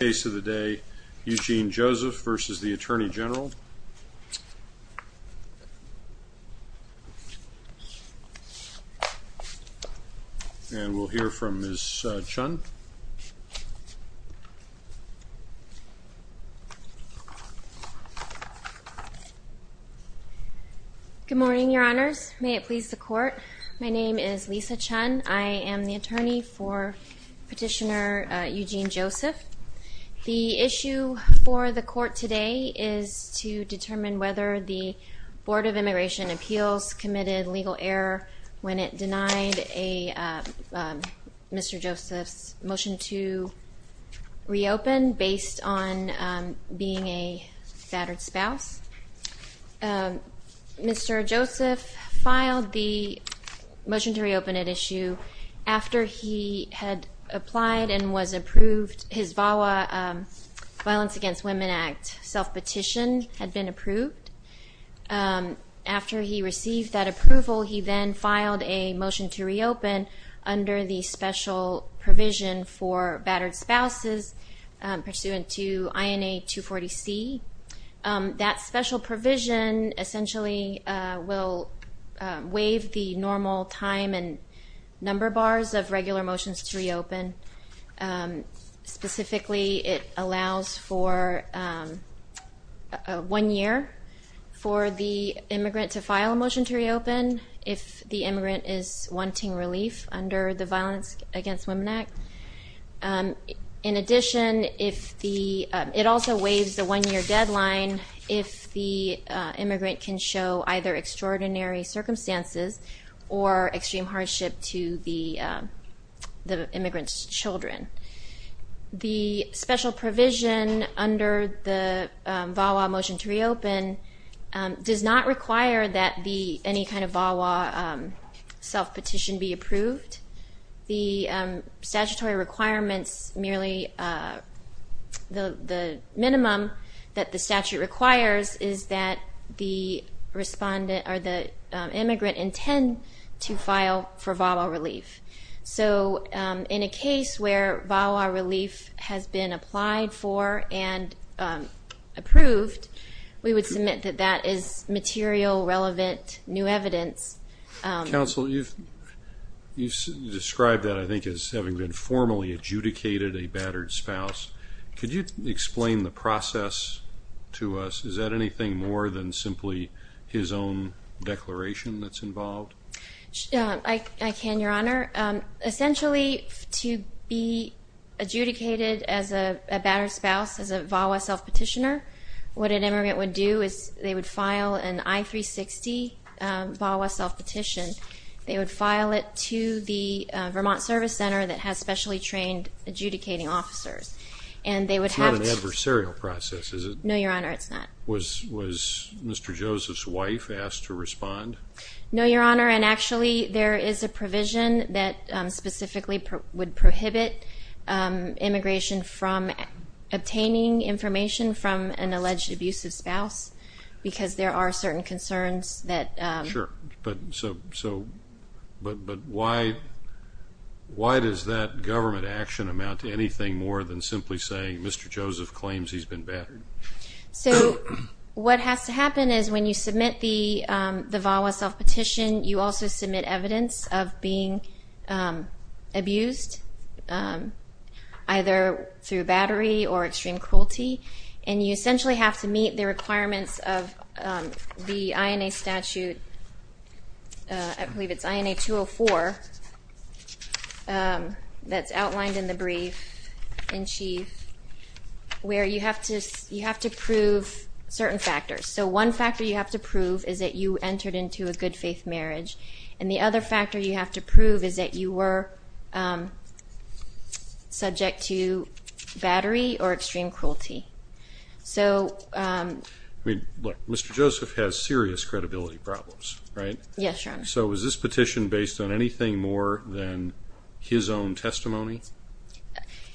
Case of the day, Eugene Joseph v. Attorney General. And we'll hear from Ms. Chun. Good morning, your honors. May it please the court, my name is Lisa Chun, I am the attorney for Petitioner Eugene Joseph. The issue for the court today is to determine whether the Board of Immigration Appeals committed legal error when it denied Mr. Joseph's motion to reopen based on being a battered spouse. Mr. Joseph filed the motion to reopen at issue after he had applied and was approved, his VAWA, Violence Against Women Act, self-petition had been approved. After he received that approval, he then filed a motion to reopen under the special provision for battered spouses pursuant to INA 240C. That special provision essentially will waive the normal time and number bars of regular motions to reopen, specifically it allows for one year for the immigrant to file a motion to reopen if the immigrant is wanting relief under the Violence Against Women Act. In addition, it also waives the one year deadline if the immigrant can show either extraordinary circumstances or extreme hardship to the immigrant's children. The special provision under the VAWA motion to reopen does not require that any kind of VAWA self-petition be approved. The statutory requirements, merely the minimum that the statute requires is that the immigrant intend to file for VAWA relief. So in a case where VAWA relief has been applied for and approved, we would submit that that is material, relevant, new evidence. Counsel, you've described that I think as having been formally adjudicated a battered spouse. Could you explain the process to us? Is that anything more than simply his own declaration that's involved? I can, Your Honor. Essentially to be adjudicated as a battered spouse, as a VAWA self-petitioner, what an They would file it to the Vermont Service Center that has specially trained adjudicating officers. It's not an adversarial process, is it? No, Your Honor, it's not. Was Mr. Joseph's wife asked to respond? No, Your Honor, and actually there is a provision that specifically would prohibit immigration from obtaining information from an alleged abusive spouse because there are certain concerns Sure, but why does that government action amount to anything more than simply saying Mr. Joseph claims he's been battered? So what has to happen is when you submit the VAWA self-petition, you also submit evidence of being abused, either through battery or extreme cruelty, and you essentially have to meet the requirements of the INA statute, I believe it's INA 204 that's outlined in the brief in chief, where you have to prove certain factors. So one factor you have to prove is that you entered into a good faith marriage, and the other factor you have to prove is that you were subject to battery or extreme cruelty. Look, Mr. Joseph has serious credibility problems, right? Yes, Your Honor. So is this petition based on anything more than his own testimony?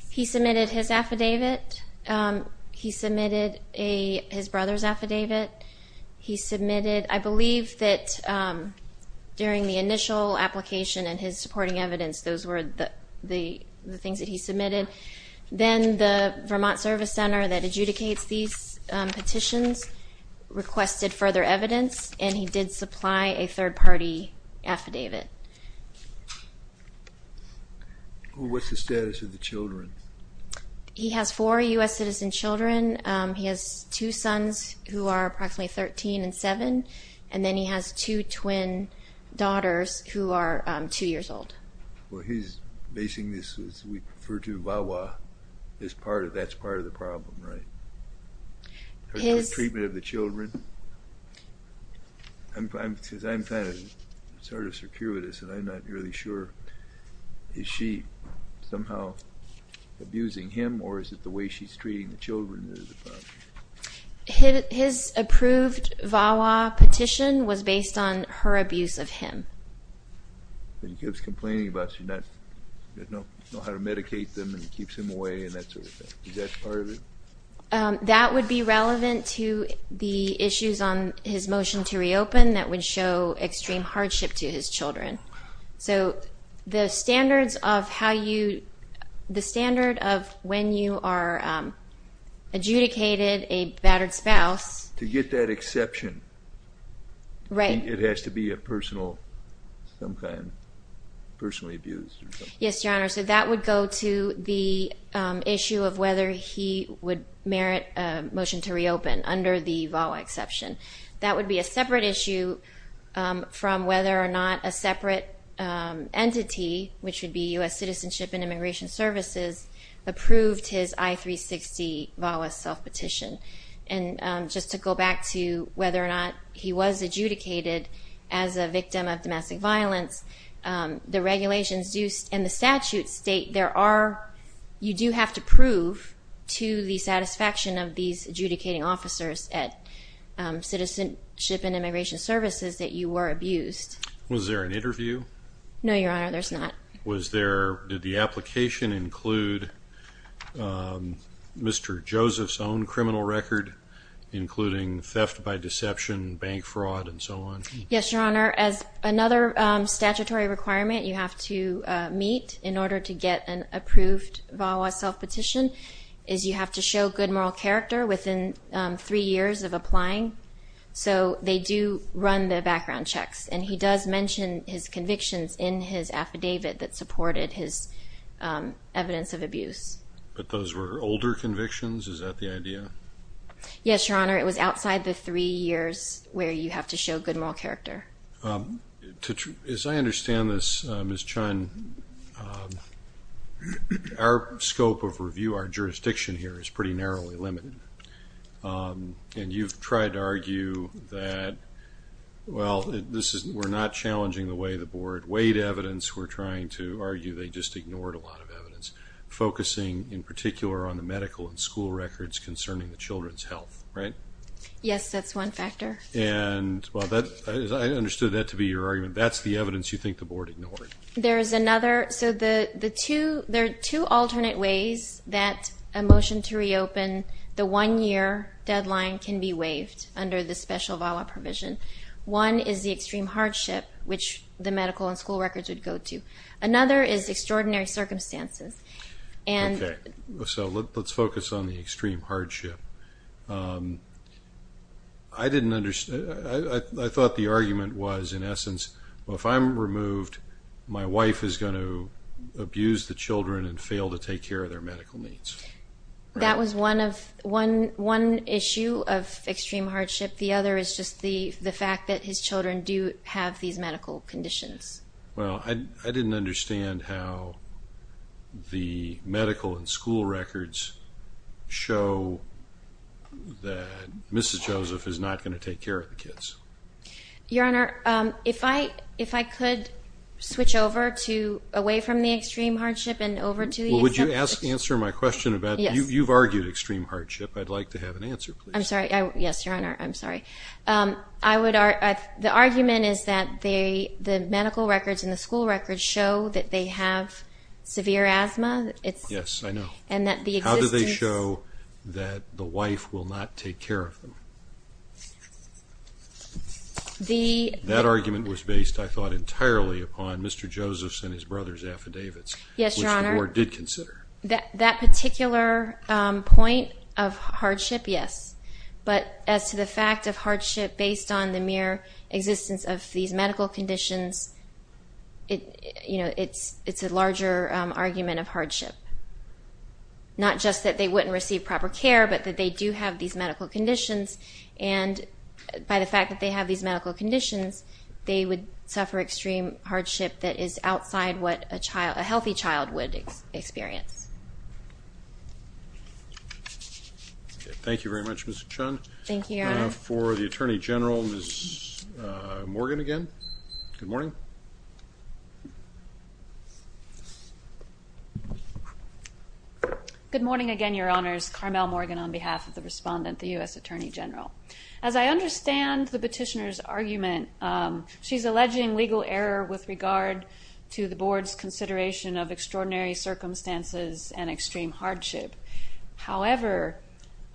He submitted his affidavit, he submitted his brother's affidavit, he submitted, I believe that during the initial application and his supporting evidence, those were the things that he submitted. Then the Vermont Service Center that adjudicates these petitions requested further evidence, and he did supply a third-party affidavit. What's the status of the children? He has four U.S. citizen children. He has two sons who are approximately 13 and 7, and then he has two twin daughters who are two years old. Well, he's basing this, as we refer to, VAWA. That's part of the problem, right? The treatment of the children? Because I'm kind of sort of circuitous, and I'm not really sure. Is she somehow abusing him, or is it the way she's treating the children that is the problem? His approved VAWA petition was based on her abuse of him. He keeps complaining about she doesn't know how to medicate them and keeps him away and that sort of thing. Is that part of it? That would be relevant to the issues on his motion to reopen that would show extreme hardship to his children. So the standards of how you – the standard of when you are adjudicated a battered spouse To get that exception. Right. It has to be a personal – some kind of personally abused. Yes, Your Honor. So that would go to the issue of whether he would merit a motion to reopen under the VAWA exception. That would be a separate issue from whether or not a separate entity, which would be U.S. Citizenship and Immigration Services, approved his I-360 VAWA self-petition. Just to go back to whether or not he was adjudicated as a victim of domestic violence, the regulations and the statutes state there are – you do have to prove to the satisfaction of these adjudicating officers at Citizenship and Immigration Services that you were abused. Was there an interview? No, Your Honor. There's not. Was there – did the application include Mr. Joseph's own criminal record, including theft by deception, bank fraud, and so on? Yes, Your Honor. As another statutory requirement you have to meet in order to get an approved VAWA self-petition is you have to show good moral character within three years of applying. So they do run the background checks. And he does mention his convictions in his affidavit that supported his evidence of abuse. But those were older convictions? Is that the idea? Yes, Your Honor. It was outside the three years where you have to show good moral character. As I understand this, Ms. Chun, our scope of review, our jurisdiction here is pretty narrowly limited. And you've tried to argue that, well, we're not challenging the way the board weighed evidence. We're trying to argue they just ignored a lot of evidence, focusing in particular on the medical and school records concerning the children's health, right? Yes, that's one factor. And I understood that to be your argument. That's the evidence you think the board ignored. There's another. So there are two alternate ways that a motion to reopen the one-year deadline can be waived under the special VAWA provision. One is the extreme hardship, which the medical and school records would go to. Another is extraordinary circumstances. Okay. So let's focus on the extreme hardship. I didn't understand. I thought the argument was, in essence, well, if I'm removed, my wife is going to abuse the children and fail to take care of their medical needs. That was one issue of extreme hardship. The other is just the fact that his children do have these medical conditions. Well, I didn't understand how the medical and school records show that Mrs. Joseph is not going to take care of the kids. Your Honor, if I could switch over to away from the extreme hardship and over to the extreme hardship. Well, would you answer my question about that? Yes. You've argued extreme hardship. I'd like to have an answer, please. I'm sorry. Yes, Your Honor. I'm sorry. The argument is that the medical records and the school records show that they have severe asthma. Yes, I know. How do they show that the wife will not take care of them? That argument was based, I thought, entirely upon Mr. Joseph's and his brother's affidavits. Yes, Your Honor. Which the Board did consider. That particular point of hardship, yes. But as to the fact of hardship based on the mere existence of these medical conditions, it's a larger argument of hardship. Not just that they wouldn't receive proper care, but that they do have these medical conditions. And by the fact that they have these medical conditions, they would suffer extreme hardship that is outside what a healthy child would experience. Thank you very much, Ms. Chun. Thank you, Your Honor. For the Attorney General, Ms. Morgan again. Good morning. Good morning again, Your Honors. Carmel Morgan on behalf of the Respondent, the U.S. Attorney General. As I understand the petitioner's argument, she's alleging legal error with regard to the Board's consideration of extraordinary circumstances and extreme hardship. However,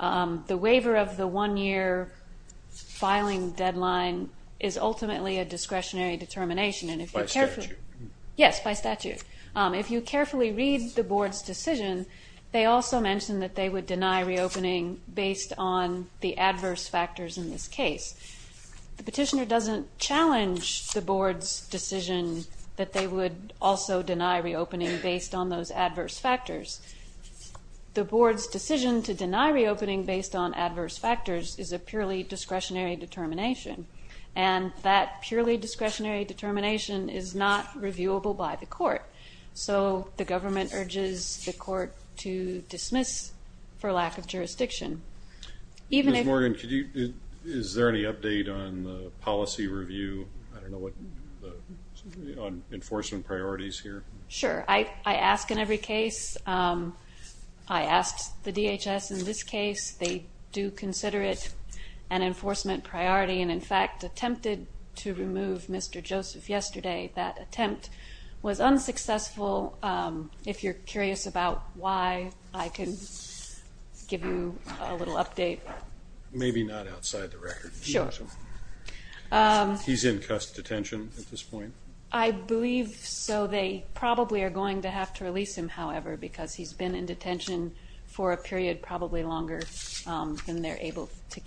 the waiver of the one-year filing deadline is ultimately a discretionary determination. By statute. Yes, by statute. If you carefully read the Board's decision, they also mention that they would deny reopening based on the adverse factors in this case. The petitioner doesn't challenge the Board's decision that they would also deny reopening based on those adverse factors. The Board's decision to deny reopening based on adverse factors is a purely discretionary determination. And that purely discretionary determination is not reviewable by the court. So the government urges the court to dismiss for lack of jurisdiction. Ms. Morgan, is there any update on the policy review on enforcement priorities here? Sure. I ask in every case. I asked the DHS in this case. They do consider it an enforcement priority and, in fact, attempted to remove Mr. Joseph yesterday. That attempt was unsuccessful. If you're curious about why, I can give you a little update. Maybe not outside the record. Sure. He's in CUSP detention at this point? I believe so. They probably are going to have to release him, however, because he's been in detention for a period probably longer than they're able to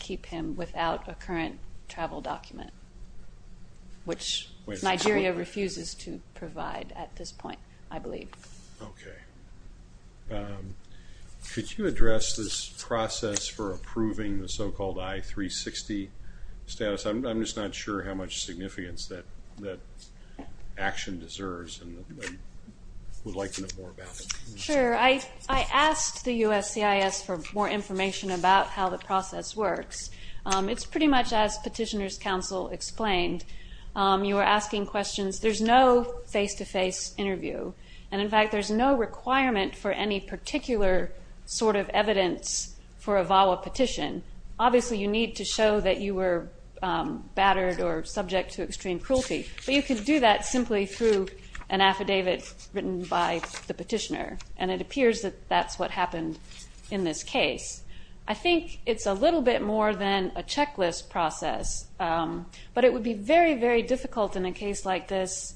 refuses to provide at this point, I believe. Okay. Could you address this process for approving the so-called I-360 status? I'm just not sure how much significance that action deserves and would like to know more about it. Sure. I asked the USCIS for more information about how the process works. It's pretty much as Petitioner's Counsel explained. You are asking questions. There's no face-to-face interview, and, in fact, there's no requirement for any particular sort of evidence for a VAWA petition. Obviously you need to show that you were battered or subject to extreme cruelty, but you could do that simply through an affidavit written by the petitioner, and it appears that that's what happened in this case. I think it's a little bit more than a checklist process, but it would be very, very difficult in a case like this,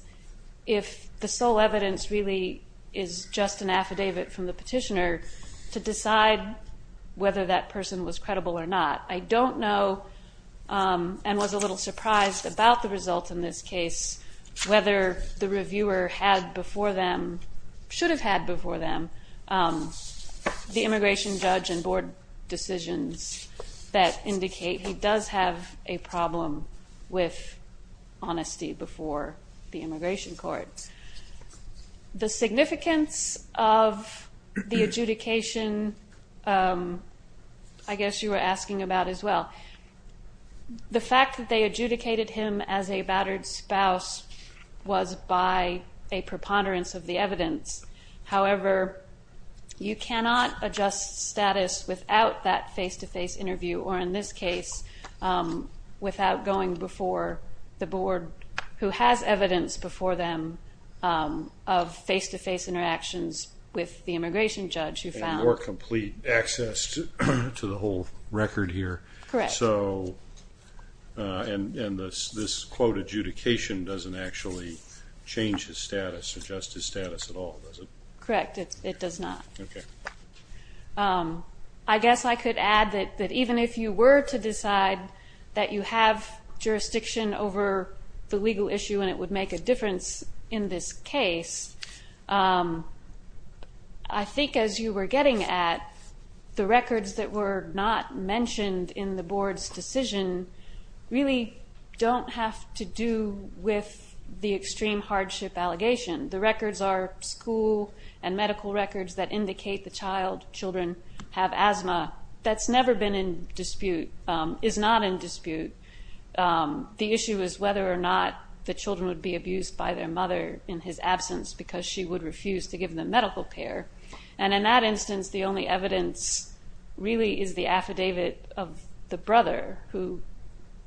if the sole evidence really is just an affidavit from the petitioner, to decide whether that person was credible or not. I don't know, and was a little surprised about the results in this case, whether the reviewer had before them, should have had before them, the immigration judge and board decisions that indicate he does have a problem with honesty before the immigration court. The significance of the adjudication, I guess you were asking about as well. The fact that they adjudicated him as a battered spouse was by a preponderance of the evidence. However, you cannot adjust status without that face-to-face interview, or in this case, without going before the board, who has evidence before them of face-to-face interactions with the immigration judge. And more complete access to the whole record here. Correct. And this quote, adjudication, doesn't actually change his status, adjust his status at all, does it? Correct, it does not. Okay. I guess I could add that even if you were to decide that you have jurisdiction over the legal issue and it would make a difference in this case, I think as you were getting at, the records that were not mentioned in the board's decision really don't have to do with the extreme hardship allegation. The records are school and medical records that indicate the child, children, have asthma. That's never been in dispute, is not in dispute. The issue is whether or not the children would be abused by their mother in his absence because she would refuse to give them medical care. And in that instance, the only evidence really is the affidavit of the brother, who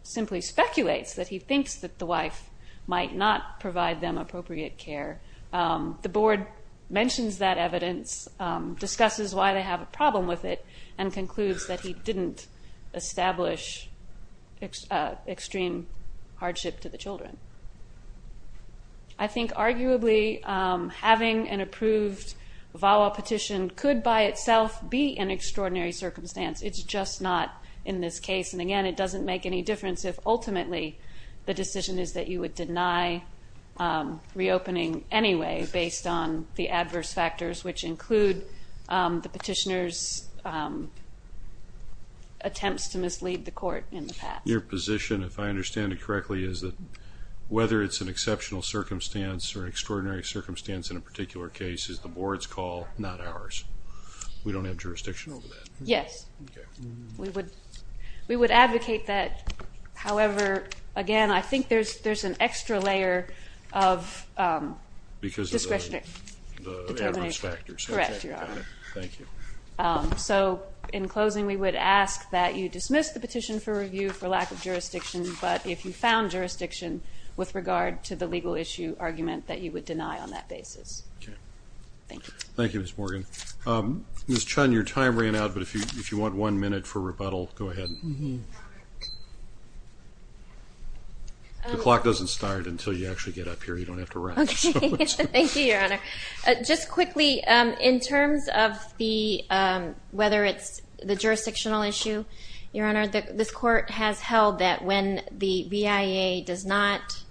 simply speculates that he thinks that the wife might not provide them appropriate care. The board mentions that evidence, discusses why they have a problem with it, and concludes that he didn't establish extreme hardship to the children. I think arguably having an approved VAWA petition could by itself be an extraordinary circumstance. It's just not in this case. And again, it doesn't make any difference if ultimately the decision is that you would deny reopening anyway based on the adverse factors which include the petitioner's attempts to mislead the court in the past. Your position, if I understand it correctly, is that whether it's an exceptional circumstance or an extraordinary circumstance in a particular case is the board's call, not ours. We don't have jurisdiction over that. Yes. We would advocate that. However, again, I think there's an extra layer of discretionary factors. Correct, Your Honor. Thank you. So in closing, we would ask that you dismiss the petition for review for lack of jurisdiction, but if you found jurisdiction with regard to the legal issue argument, that you would deny on that basis. Okay. Thank you. Thank you, Ms. Morgan. Ms. Chun, your time ran out, but if you want one minute for rebuttal, go ahead. The clock doesn't start until you actually get up here. You don't have to run. Okay. Thank you, Your Honor. Just quickly, in terms of whether it's the jurisdictional issue, Your Honor, this court has held that when the BIA does not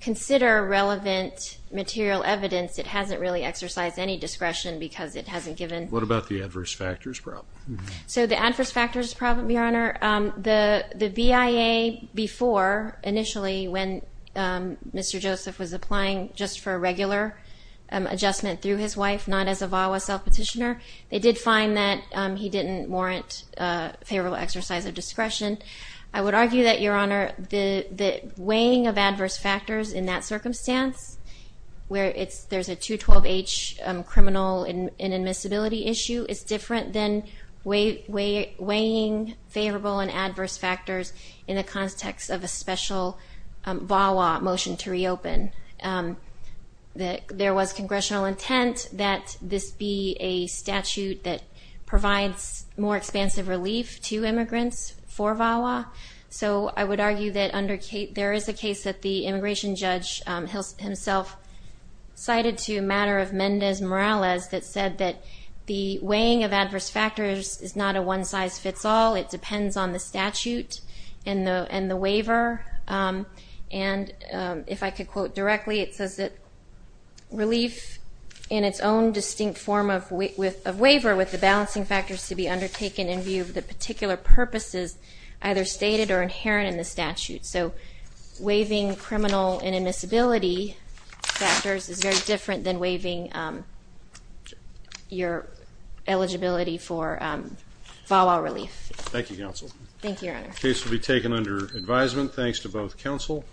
consider relevant material evidence, it hasn't really exercised any discretion because it hasn't given. What about the adverse factors problem? So the adverse factors problem, Your Honor, the BIA before, initially, when Mr. Joseph was applying just for a regular adjustment through his wife, not as a VAWA self-petitioner, they did find that he didn't warrant favorable exercise of discretion. I would argue that, Your Honor, the weighing of adverse factors in that circumstance, where there's a 212H criminal inadmissibility issue, is different than weighing favorable and adverse factors in the context of a special VAWA motion to reopen. There was congressional intent that this be a statute that provides more expansive relief to immigrants for VAWA. So I would argue that there is a case that the immigration judge himself cited to a matter of Mendez-Morales that said that the weighing of adverse factors is not a one-size-fits-all. It depends on the statute and the waiver. And if I could quote directly, it says that relief in its own distinct form of waiver with the balancing factors to be undertaken in view of the particular purposes either stated or inherent in the statute. So waiving criminal inadmissibility factors is very different than waiving your eligibility for VAWA relief. Thank you, Counsel. Thank you, Your Honor. The case will be taken under advisement. Thanks to both counsel.